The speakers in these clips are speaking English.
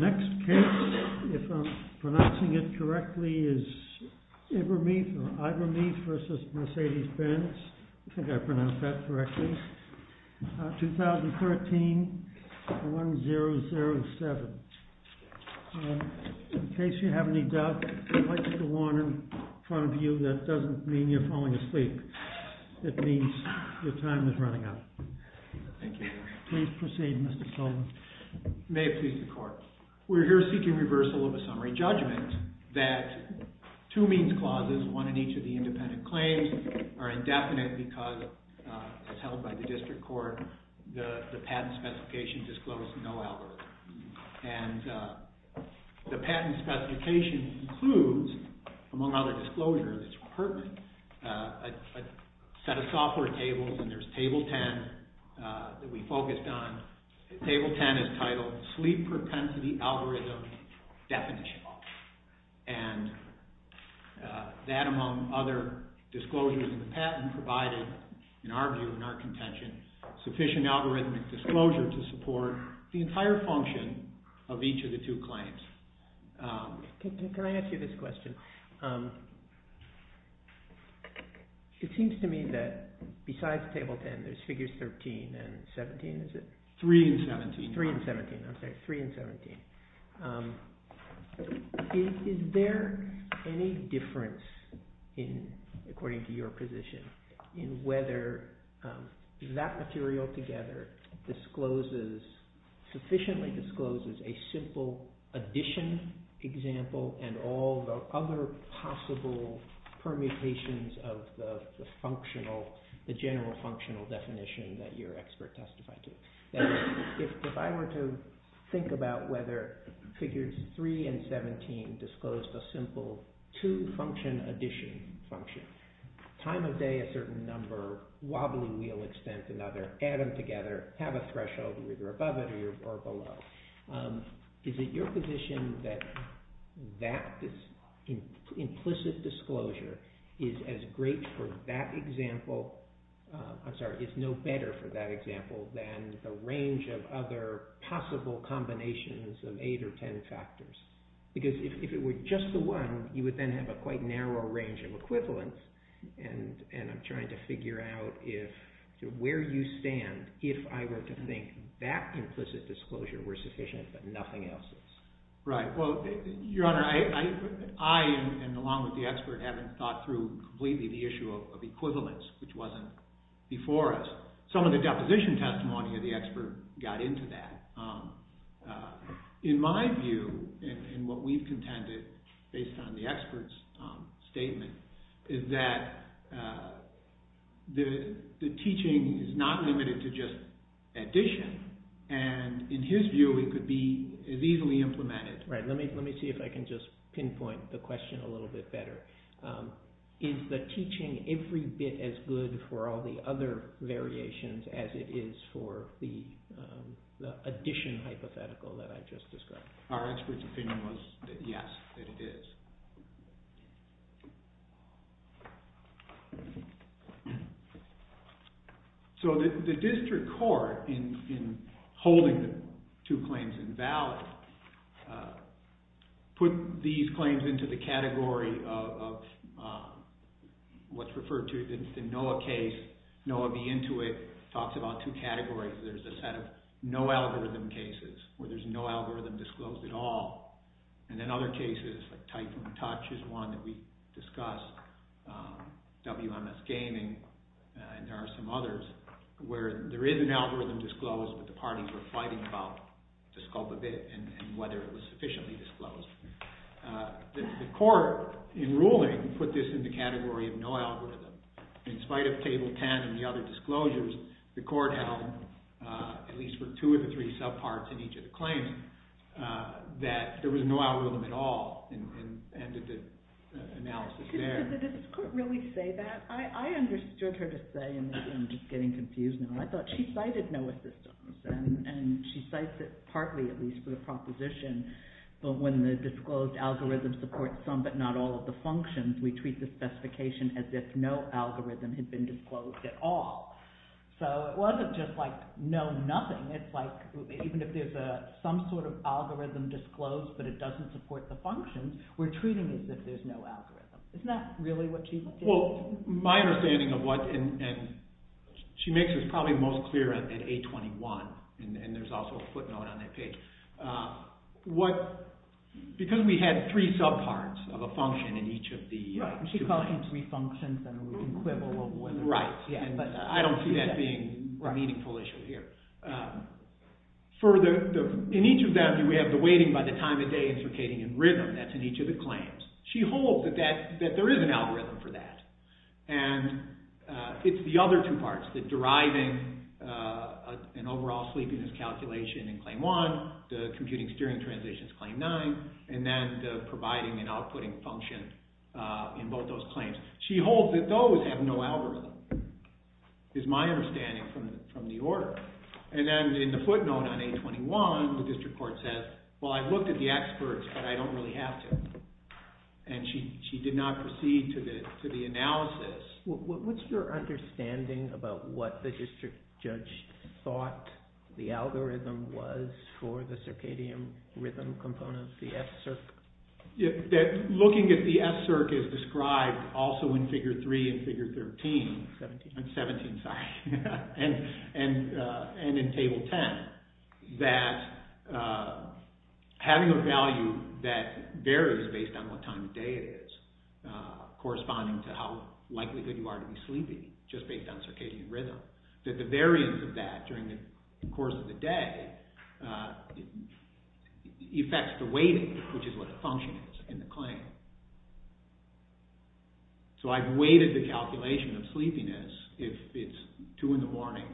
MERCEDES-BENZ USA If I'm pronouncing it correctly, it's Ivermeet vs. Mercedes-Benz. I think I pronounced that correctly. 2013-1007. In case you have any doubt, I'd like to put a warning in front of you that doesn't mean you're falling asleep. It means your time is running out. — Thank you. — Please proceed, Mr. Sullivan. May it please the Court. We're here seeking reversal of a summary judgment that two means clauses, one in each of the independent claims, are indefinite because, as held by the District Court, the patent specification disclosed no algorithm. And the patent specification includes, among other disclosures, it's pertinent, a set of software tables, and there's Table 10 that we focused on. Table 10 is titled, Sleep Propensity Algorithm Definition. And that, among other disclosures in the patent, provided, in our view, in our contention, sufficient algorithmic disclosure to support the entire function of each of the two claims. — Can I ask you this question? It seems to me that, besides Table 10, there's Figures 13 and 17, is it? — Three and 17. — Three and 17, I'm sorry. Three and 17. Is there any difference, according to your position, in whether that material together discloses, sufficiently discloses, a simple addition example and all the other possible permutations of the functional, the general functional definition that your expert testified to? If I were to think about whether Figures 3 and 17 disclosed a simple two-function addition function, time of day a certain number, wobbly wheel extent another, add them together, have a threshold, either above it or below, is it your position that that implicit disclosure is as great for that example, I'm sorry, is no better for that example than the range of other possible combinations of eight or ten factors? Because if it were just the one, you would then have a quite narrow range of equivalents, and I'm trying to figure out where you stand if I were to think that implicit disclosure were sufficient but nothing else is. Right. Well, Your Honor, I, along with the expert, haven't thought through completely the issue of equivalents, which wasn't before us. Some of the deposition testimony of the expert got into that. In my view, and what we've contended, based on the expert's statement, is that the teaching is not limited to just addition, and in his view, it could be as easily implemented. Right. Let me see if I can just pinpoint the question a little bit better. Is the teaching every bit as good for all the other variations as it is for the addition hypothetical that I just described? Our expert's opinion was that yes, that it is. So, the district court, in holding the two claims invalid, put these claims into the category of what's referred to as the NOAA case. NOAA, the Intuit, talks about two categories. There's a set of no algorithm cases, where there's no algorithm disclosed at all, and then other cases, like type I, and touch is one that we discussed, WMS Gaming, and there are some others, where there is an algorithm disclosed, but the parties were fighting about the scope of it and whether it was sufficiently disclosed. The court, in ruling, put this in the category of no algorithm. In spite of Table 10 and the other disclosures, the court held, at least for two of the three subparts in each of the claims, that there was no algorithm at all, and ended the analysis there. Did the district court really say that? I understood her to say, and I'm just getting confused now, I thought she cited NOAA systems, and she cites it partly, at least for the proposition, that when the disclosed algorithm supports some, but not all of the functions, we treat the specification as if no algorithm had been disclosed at all. So, it wasn't just like no nothing, it's like even if there's some sort of algorithm disclosed, but it doesn't support the functions, we're treating it as if there's no algorithm. Isn't that really what she's saying? My understanding of what, and she makes this probably most clear at 821, and there's also a footnote on that page, because we had three subparts of a function in each of the... Right, and she's calling them three functions and an equivalent. Right, and I don't see that being a meaningful issue here. Further, in each of them, we have the waiting by the time of day and circadian rhythm, that's in each of the claims. She holds that there is an algorithm for that, and it's the other two parts, the deriving and overall sleepiness calculation in Claim 1, the computing steering transitions in Claim 9, and then the providing and outputting function in both those claims. She holds that those have no algorithm, is my understanding from the order. And then in the footnote on 821, the district court says, well, I've looked at the experts, but I don't really have to. And she did not proceed to the analysis. What's your understanding about what the district judge thought the algorithm was for the circadian rhythm components, the S-circ? Looking at the S-circ is described also in Figure 3 and Figure 13... 17. 17, sorry, and in Table 10, that having a value that varies based on what time of day it is, corresponding to how likely you are to be sleepy, just based on circadian rhythm, that the variance of that during the course of the day affects the waiting, which is what the function is in the claim. So I've weighted the calculation of sleepiness if it's two in the morning,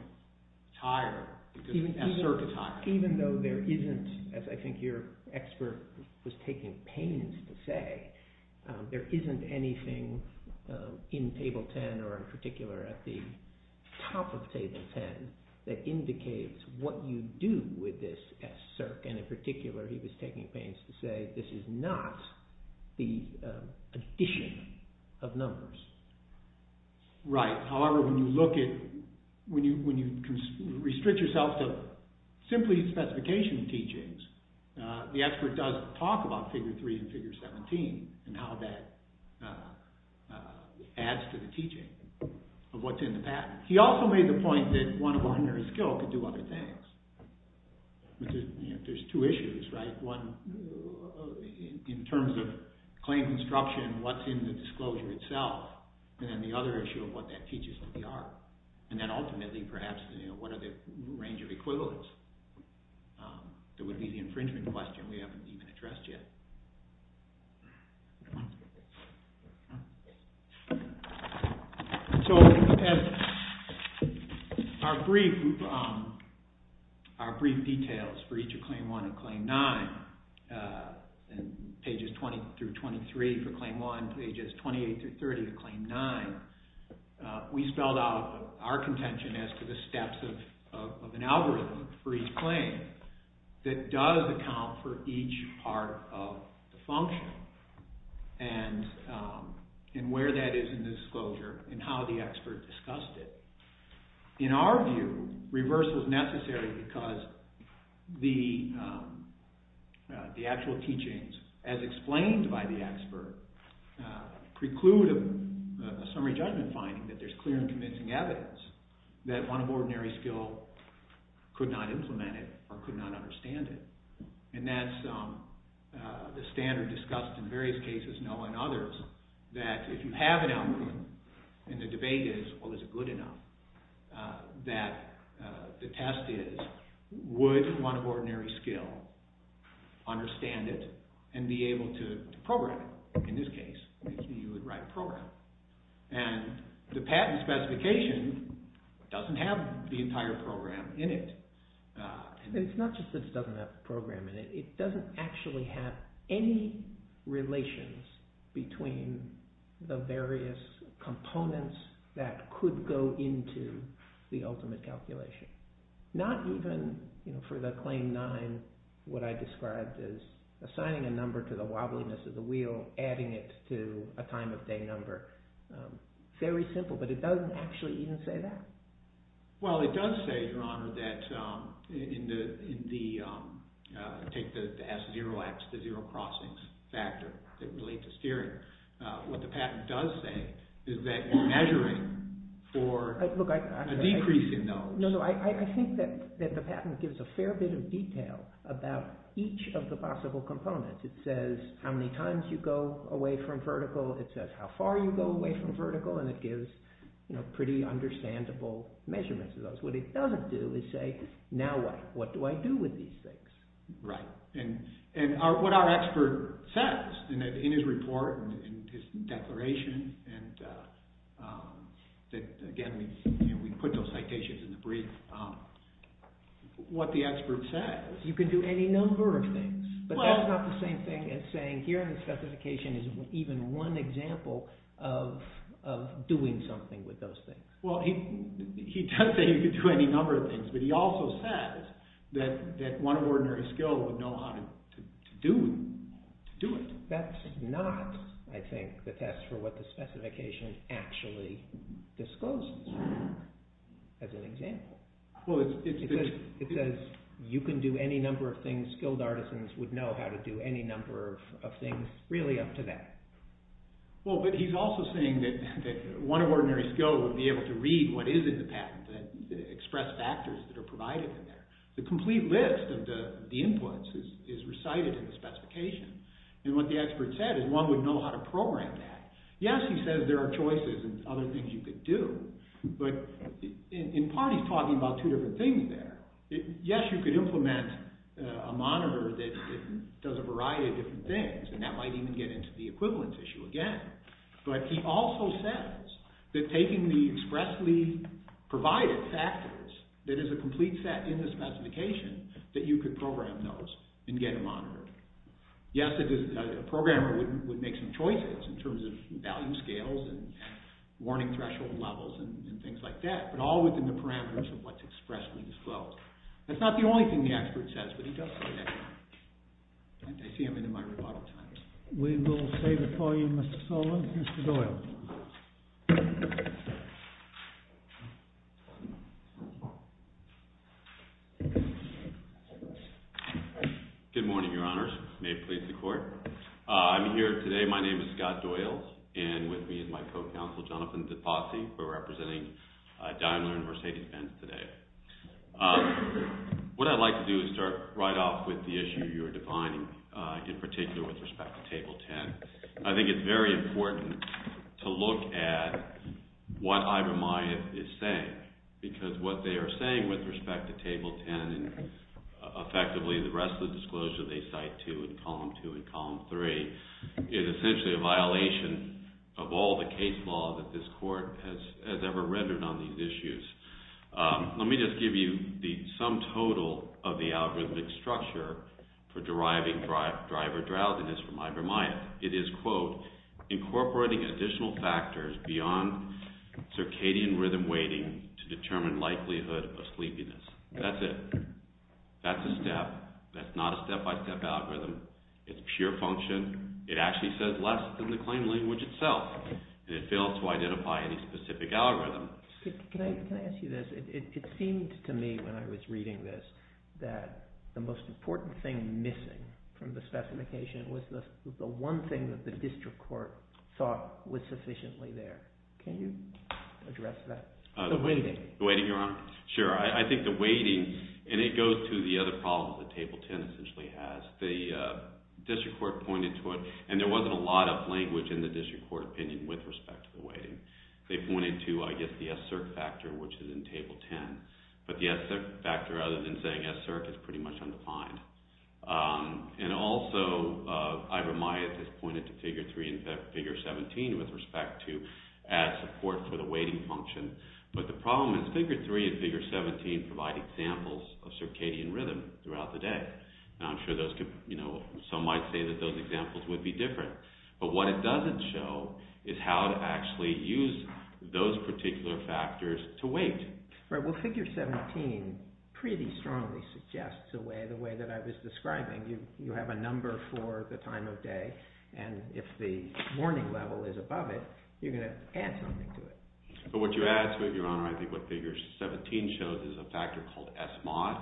tired, because S-circ is tired. Even though there isn't, as I think your expert was taking pains to say, there isn't anything in Table 10 or in particular at the top of Table 10 that indicates what you do with this S-circ. And in particular, he was taking pains to say, this is not the addition of numbers. Right. However, when you restrict yourself to simply specification teachings, the expert does talk about Figure 3 and Figure 17 and how that adds to the teaching of what's in the patent. He also made the point that one of a hundred skill could do other things. There's two issues, right? One, in terms of claim construction, what's in the disclosure itself. And then the other issue of what that teaches to the art. And then ultimately, perhaps, what are the range of equivalence? That would be the infringement question we haven't even addressed yet. So as our brief details for each of Claim 1 and Claim 9, in pages 20 through 23 for Claim 1, pages 28 through 30 for Claim 9, we spelled out our contention as to the steps of an algorithm for each claim that does account for each part of the function and where that is in the disclosure and how the expert discussed it. In our view, reversal is necessary because the actual teachings, as explained by the expert, preclude a summary judgment finding that there's clear and convincing evidence that one of ordinary skill could not implement it or could not understand it. And that's the standard discussed in various cases, Noah and others, that if you have an algorithm and the debate is, well, is it good enough, that the test is, would one of ordinary skill understand it and be able to program it? In this case, you would write program. And the patent specification doesn't have the entire program in it. And it's not just that it doesn't have the program in it. It doesn't actually have any relations between the various components that could go into the ultimate calculation. Not even for the Claim 9, what I described as assigning a number to the wobbliness of the wheel, adding it to a time of day number. Very simple, but it doesn't actually even say that. Well, it does say, Your Honor, that in the, take the S0X, the zero crossings factor that relate to steering. What the patent does say is that you're measuring for a decrease in those. No, I think that the patent gives a fair bit of detail about each of the possible components. It says how many times you go away from vertical. It says how far you go away from vertical. And it gives pretty understandable measurements of those. What it doesn't do is say, Now what? What do I do with these things? Right. And what our expert says in his report, in his declaration, and again, we put those citations in the brief, what the expert says. You can do any number of things. But that's not the same thing as saying here in the specification is even one example of doing something with those things. Well, he does say you can do any number of things, but he also says that one of ordinary skill would know how to do it. That's not, I think, the test for what the specification actually discloses as an example. Well, it says you can do any number of things. Skilled artisans would know how to do any number of things really up to that. Well, but he's also saying that one of ordinary skill would be able to read what is in the patent, express factors that are provided in there. The complete list of the inputs is recited in the specification. And what the expert said is one would know how to program that. Yes, he says there are choices and other things you could do, but in part he's talking about two different things there. Yes, you could implement a monitor that does a variety of different things, and that might even get into the equivalence issue again. But he also says that taking the expressly provided factors that is a complete set in the specification, that you could program those and get a monitor. Yes, a programmer would make some choices in terms of value scales and warning threshold levels and things like that, but all within the parameters of what's expressly disclosed. That's not the only thing the expert says, but he does say that. I see I'm into my rebuttal time. We will save it for you, Mr. Sullivan. Mr. Doyle. Good morning, Your Honors. May it please the Court. I'm here today, my name is Scott Doyle, and with me is my co-counsel, Jonathan DePossi, who is representing Daimler and Mercedes-Benz today. What I'd like to do is start right off with the issue you're defining, in particular with respect to Table 10. I think it's very important to look at what Ibram-Yath is saying, because what they are saying with respect to Table 10, and effectively the rest of the disclosure they cite too, in Column 2 and Column 3, is essentially a violation of all the case law that this Court has ever rendered on these issues. Let me just give you the sum total of the algorithmic structure for deriving driver drowsiness from Ibram-Yath. It is, quote, incorporating additional factors beyond circadian rhythm weighting to determine likelihood of sleepiness. That's it. That's a step. That's not a step-by-step algorithm. It's pure function. It actually says less than the claim language itself, and it fails to identify any specific algorithm. Can I ask you this? It seemed to me, when I was reading this, that the most important thing missing from the specification was the one thing that the District Court thought was sufficiently there. Can you address that? The weighting. The weighting, Your Honor? Sure. I think the weighting, and it goes to the other problem that Table 10 essentially has. The District Court pointed to it, and there wasn't a lot of language in the District Court opinion with respect to the weighting. They pointed to, I guess, the S-cert factor, which is in Table 10. But the S-cert factor, other than saying S-cert, is pretty much undefined. And also, Ivor Maez has pointed to Figure 3 and Figure 17 with respect to adding support for the weighting function. But the problem is, Figure 3 and Figure 17 provide examples of circadian rhythm throughout the day. Now, I'm sure some might say that those examples would be different. But what it doesn't show is how to actually use those particular factors to weight. Well, Figure 17 pretty strongly suggests the way that I was describing. You have a number for the time of day, and if the morning level is above it, you're going to add something to it. But what you add, Your Honor, I think what Figure 17 shows is a factor called S-mod,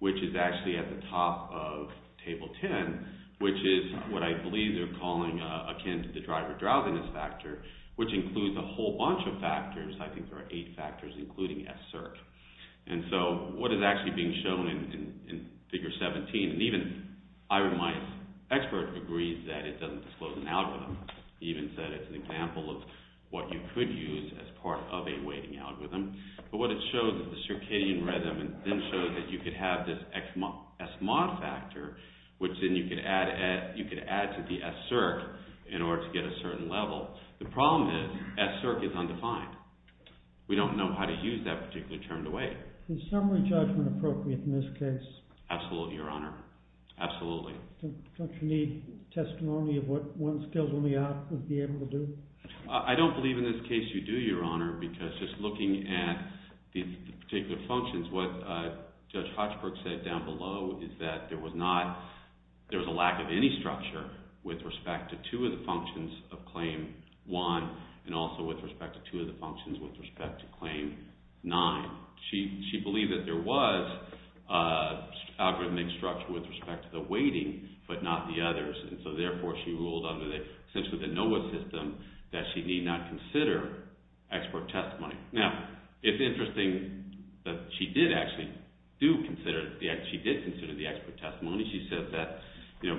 which is actually at the top of Table 10, which is what I believe they're calling akin to the driver drowsiness factor, which includes a whole bunch of factors. I think there are eight factors, including S-cert. And so, what is actually being shown in Figure 17, and even Ivor Maez, expert, agrees that it doesn't disclose an algorithm. He even said it's an example of what you could use as part of a weighting algorithm. But what it shows is the circadian rhythm, and then shows that you could have this S-mod factor, which then you could add to the S-cert in order to get a certain level. The problem is, S-cert is undefined. We don't know how to use that particular term to weight. Is summary judgment appropriate in this case? Absolutely, Your Honor. Absolutely. Don't you need testimony of what one's skills in the art would be able to do? I don't believe in this case you do, Your Honor, because just looking at the particular functions, what Judge Hochberg said down below, is that there was a lack of any structure with respect to two of the functions of Claim 1, and also with respect to two of the functions with respect to Claim 9. She believed that there was an algorithmic structure with respect to the weighting, but not the others. And so, therefore, she ruled under essentially the NOAA system that she need not consider expert testimony. Now, it's interesting that she did actually consider the expert testimony. She said that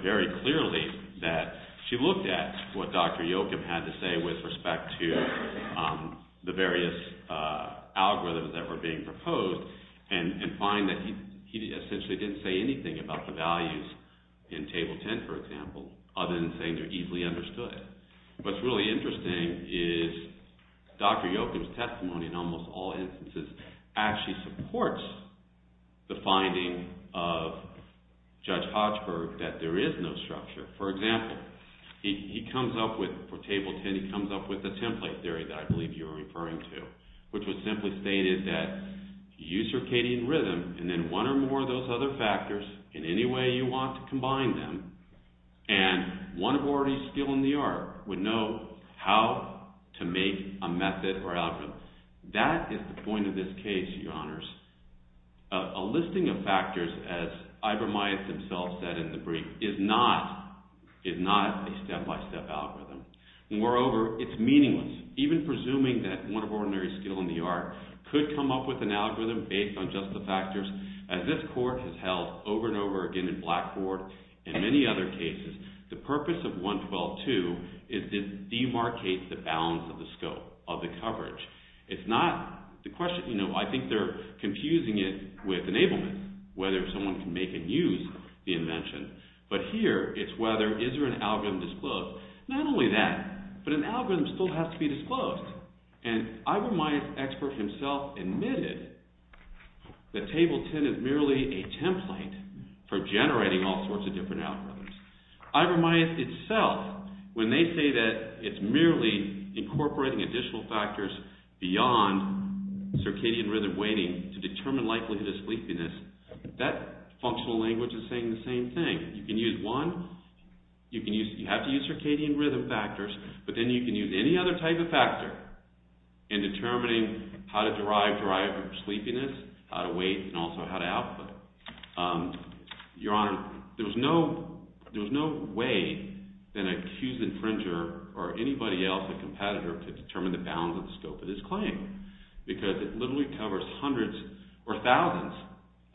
very clearly that she looked at what Dr. Yoakum had to say with respect to the various algorithms that were being proposed, and find that he essentially didn't say anything about the values in Table 10, for example, other than saying they're easily understood. What's really interesting is Dr. Yoakum's testimony, in almost all instances, actually supports the finding of Judge Hochberg that there is no structure. For example, he comes up with, for Table 10, he comes up with a template theory that I believe you're referring to, which was simply stated that you use circadian rhythm, and then one or more of those other factors, in any way you want to combine them, and one of the already skilled in the art would know how to make a method or algorithm. That is the point of this case, Your Honors. A listing of factors, as Ibram Mayes himself said in the brief, is not a step-by-step algorithm. Moreover, it's meaningless. Even presuming that one of ordinary skill in the art could come up with an algorithm based on just the factors, as this Court has held over and over again in Blackboard and many other cases, the purpose of 112.2 is to demarcate the balance of the scope, of the coverage. It's not the question... I think they're confusing it with enablement, whether someone can make and use the invention, but here it's whether, is there an algorithm disclosed? Not only that, but an algorithm still has to be disclosed. And Ibram Mayes, the expert himself, admitted that Table 10 is merely a template for generating all sorts of different algorithms. Ibram Mayes itself, when they say that it's merely incorporating additional factors beyond circadian rhythm weighting to determine likelihood of sleepiness, that functional language is saying the same thing. You can use one, you have to use circadian rhythm factors, but then you can use any other type of factor in determining how to derive sleepiness, how to weight, and also how to output. Your Honor, there's no way that an accused infringer or anybody else, a competitor, could determine the balance of the scope of this claim, because it literally covers hundreds or thousands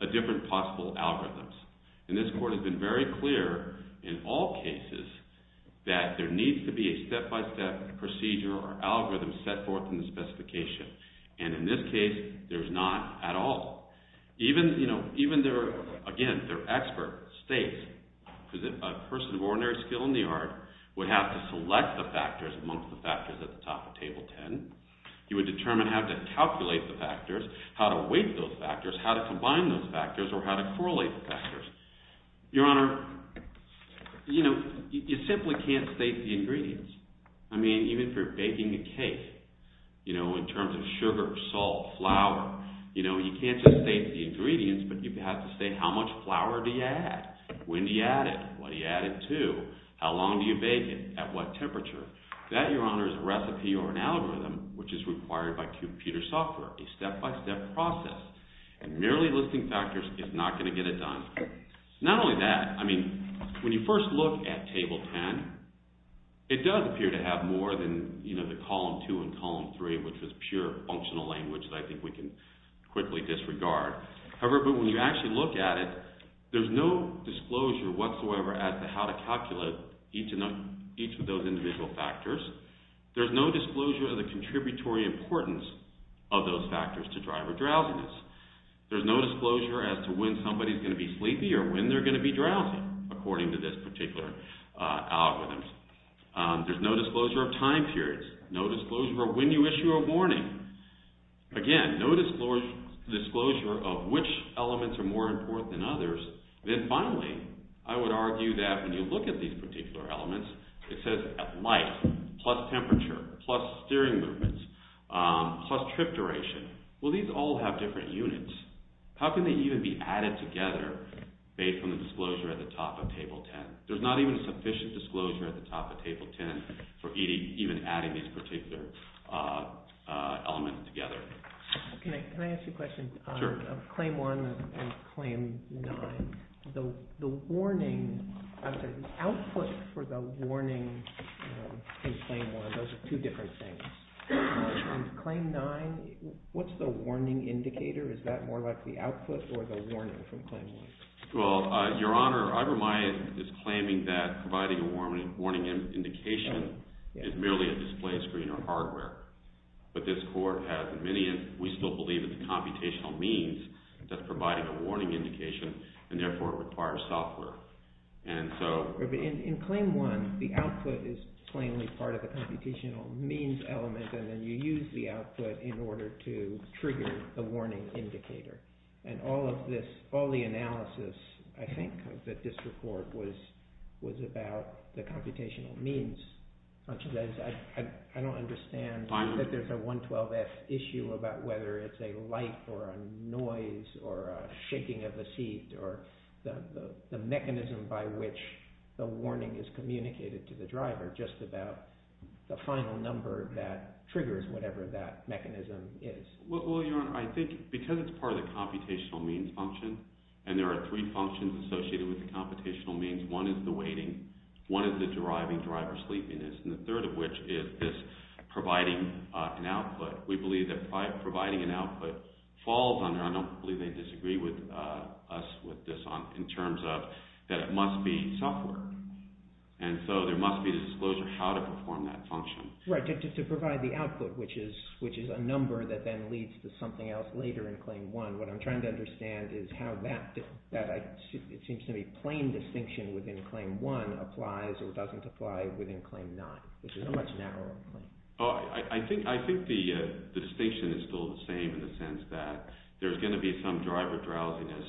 of different possible algorithms. And this Court has been very clear in all cases that there needs to be a step-by-step procedure or algorithm set forth in the specification. And in this case, there's not at all. Even their expert states, because a person of ordinary skill in the art would have to select the factors amongst the factors at the top of Table 10. He would determine how to calculate the factors, how to weight those factors, how to combine those factors, or how to correlate the factors. Your Honor, you simply can't state the ingredients. I mean, even if you're baking a cake, in terms of sugar, salt, flour, you can't just state the ingredients, but you have to state how much flour do you add, when do you add it, what do you add it to, how long do you bake it, at what temperature. That, Your Honor, is a recipe or an algorithm, which is required by computer software, a step-by-step process. And merely listing factors is not going to get it done. Not only that, I mean, when you first look at Table 10, it does appear to have more than the column 2 and column 3, which is pure functional language that I think we can quickly disregard. However, when you actually look at it, there's no disclosure whatsoever as to how to calculate each of those individual factors. There's no disclosure of the contributory importance of those factors to driver drowsiness. There's no disclosure as to when somebody's going to be sleepy or when they're going to be drowsy, according to this particular algorithm. There's no disclosure of time periods, no disclosure of when you issue a warning. Again, no disclosure of which elements are more important than others. Then finally, I would argue that when you look at these particular elements, it says at light, plus temperature, plus steering movements, plus trip duration. Well, these all have different units. How can they even be added together based on the disclosure at the top of Table 10? There's not even a sufficient disclosure at the top of Table 10 for even adding these particular elements together. Can I ask you a question? Sure. Claim 1 and Claim 9, the warning, I'm sorry, the output for the warning in Claim 1, those are two different things. Claim 9, what's the warning indicator? Is that more like the output or the warning from Claim 1? Well, Your Honor, Ivermite is claiming that providing a warning indication is merely a display screen or hardware. But this Court has many, we still believe it's a computational means that's providing a warning indication, and therefore it requires software. And so... In Claim 1, the output is plainly part of the computational means element, and then you use the output in order to trigger the warning indicator. And all of this, all the analysis, I think, of this report was about the computational means. I don't understand that there's a 112F issue about whether it's a light or a noise or a shaking of the seat or the mechanism by which the warning is communicated to the driver, just about the final number that triggers whatever that mechanism is. Well, Your Honor, I think because it's part of the computational means function, and there are three functions associated with the computational means. One is the waiting, one is the driving driver sleepiness, and the third of which is providing an output. We believe that providing an output falls under, I don't believe they disagree with us with this, in terms of that it must be software. And so there must be a disclosure how to perform that function. Right, to provide the output, which is a number that then leads to something else later in Claim 1. What I'm trying to understand is how that, it seems to me, plain distinction within Claim 1 applies or doesn't apply within Claim 9, which is a much narrower claim. I think the distinction is still the same in the sense that there's going to be some driver drowsiness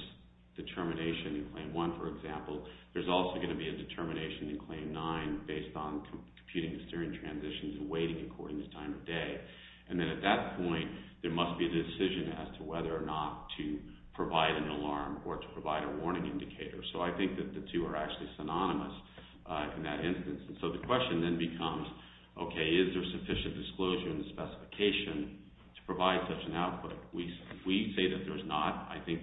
determination in Claim 1, for example. There's also going to be a determination in Claim 9 based on computing the steering transitions and waiting according to time of day. And then at that point, there must be a decision as to whether or not to provide an alarm or to provide a warning indicator. So I think that the two are actually synonymous in that instance. So the question then becomes, okay, is there sufficient disclosure in the specification to provide such an output? We say that there's not. I think,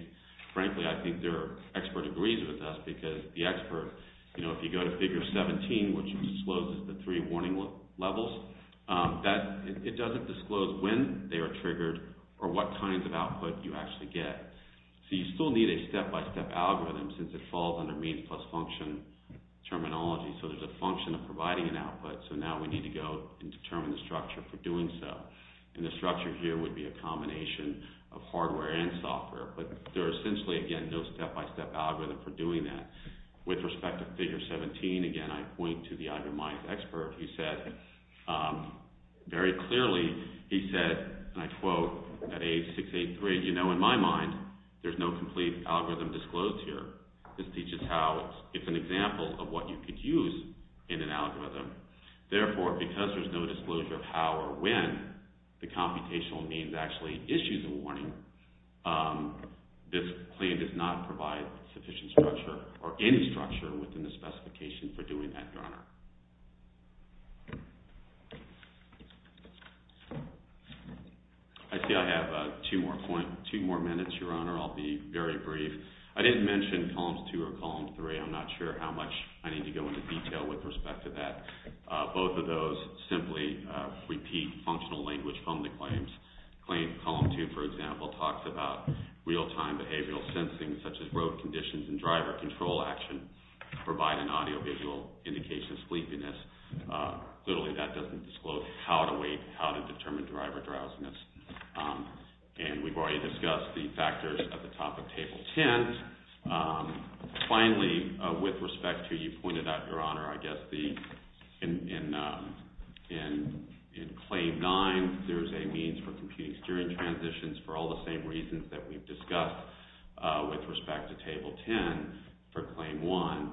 frankly, I think their expert agrees with us because the expert, you know, if you go to Figure 17, which discloses the three warning levels, that it doesn't disclose when they are triggered or what kinds of output you actually get. So you still need a step-by-step algorithm since it falls under means plus function terminology. So there's a function of providing an output. So now we need to go and determine the structure for doing so. And the structure here would be a combination of hardware and software. But there are essentially, again, no step-by-step algorithm for doing that. With respect to Figure 17, again, I point to the itemized expert. He said very clearly, he said, and I quote, at age 6, 8, 3, you know, in my mind, there's no complete algorithm disclosed here. This teaches how it's an example of what you could use in an algorithm. Therefore, because there's no disclosure of how or when the computational means actually issues a warning, this claim does not provide sufficient structure or any structure within the specification for doing that, Your Honor. I see I have two more minutes, Your Honor. I'll be very brief. I didn't mention columns 2 or column 3. I'm not sure how much I need to go into detail with respect to that. Both of those simply repeat functional language from the claims. Claim column 2, for example, talks about real-time behavioral sensing, provide an audiovisual indication of some of the behavior. Clearly, that doesn't disclose how to wait, how to determine driver drowsiness. And we've already discussed the factors at the top of Table 10. Finally, with respect to, you pointed out, Your Honor, I guess in Claim 9, there's a means for computing steering transitions for all the same reasons that we've discussed with respect to Table 10 for Claim 1.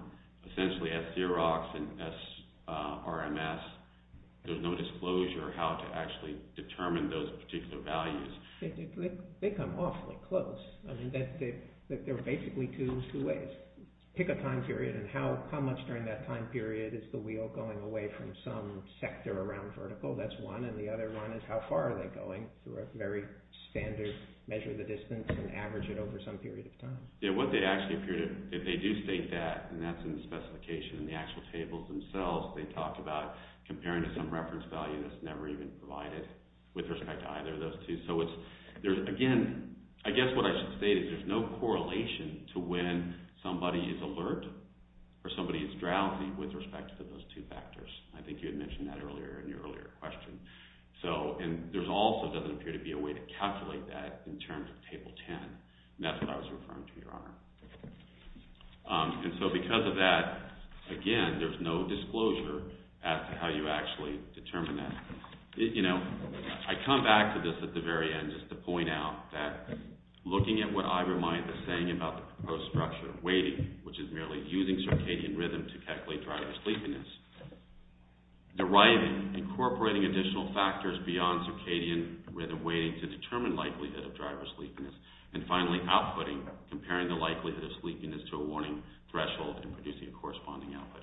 Essentially, at Xerox and SRMS, there's no disclosure how to actually determine those particular values. They come awfully close. They're basically two ways. Pick a time period, and how much during that time period is the wheel going away from some sector around vertical? That's one, and the other one is how far are they going through a very standard measure of the distance and average it over some period of time? Yeah, what they actually appear to, if they do state that, and that's in the specification in the actual tables themselves, they talk about comparing to some reference value that's never even provided with respect to either of those two. So again, I guess what I should state is there's no correlation to when somebody is alert or somebody is drowsy with respect to those two factors. I think you had mentioned that earlier in your earlier question. And there also doesn't appear to be a way to calculate that in terms of Table 10. And that's what I was referring to, Your Honor. And so because of that, again, there's no disclosure as to how you actually determine that. You know, I come back to this at the very end just to point out that looking at what I remind the saying about the proposed structure of weighting, which is merely using circadian rhythm to calculate driver sleepiness, deriving, incorporating additional factors beyond circadian rhythm weighting to determine likelihood of driver sleepiness, and finally, outputting, comparing the likelihood of sleepiness to a warning threshold and producing a corresponding output.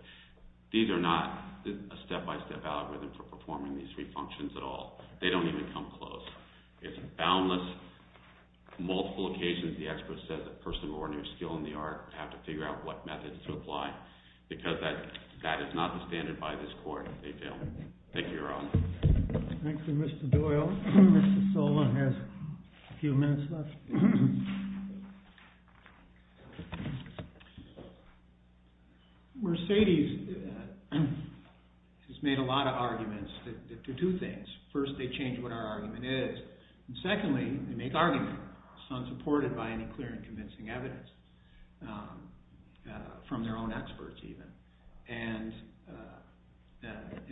These are not a step-by-step algorithm for performing these three functions at all. They don't even come close. It's boundless. On multiple occasions, the expert says that person of ordinary skill in the art have to figure out what methods to apply because that is not the standard by this Court, they feel. Thank you, Your Honor. Thank you, Mr. Doyle. Mr. Sola has a few minutes left. Mercedes has made a lot of arguments to do things. First, they change what our argument is, and secondly, they make arguments unsupported by any clear and convincing evidence from their own experts, even.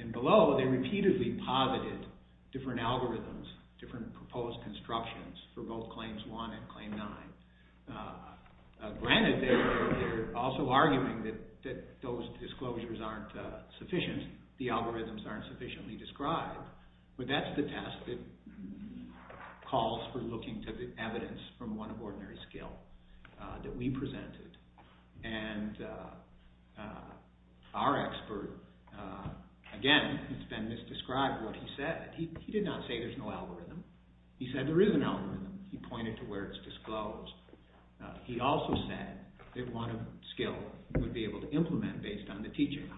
And below, they repeatedly posited different algorithms, different proposed constructions for both Claims 1 and Claim 9. Granted, they're also arguing that those disclosures aren't sufficient, the algorithms aren't sufficiently described, but that's the test that calls for looking to the evidence from one of ordinary skill that we presented. And our expert, again, it's been misdescribed what he said. He did not say there's no algorithm. He said there is an algorithm. He pointed to where it's disclosed. He also said that one of skill would be able to implement based on the teachings.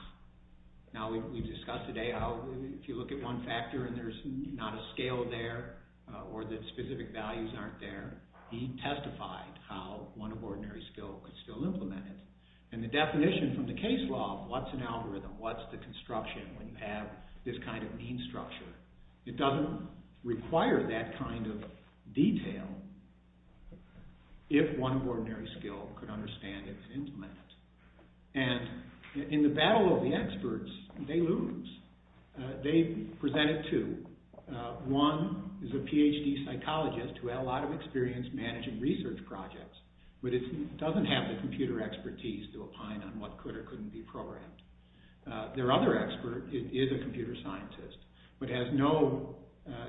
Now, we've discussed today how if you look at one factor and there's not a scale there or that specific values aren't there, he testified how one of ordinary skill could still implement it. And the definition from the case law of what's an algorithm, what's the construction when you have this kind of mean structure, it doesn't require that kind of detail if one of ordinary skill could understand it and implement it. And in the battle of the experts, they lose. They presented two. One is a PhD psychologist who had a lot of experience managing research projects, but it doesn't have the computer expertise to opine on what could or couldn't be programmed. Their other expert is a computer scientist, but has no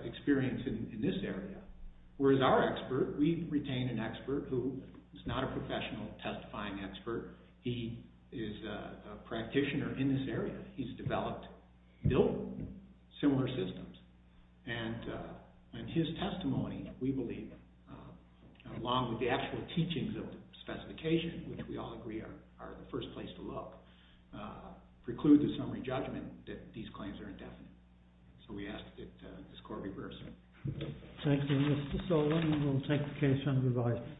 experience in this area. Whereas our expert, we've retained an expert who is not a professional testifying expert. He is a practitioner in this area. He's developed, built similar systems. And in his testimony, we believe, along with the actual teachings of the specification, which we all agree are the first place to look, preclude the summary judgment that these claims are indefinite. So we ask that this court reverse it. Thank you, Mr. Solon. We'll take the case under review.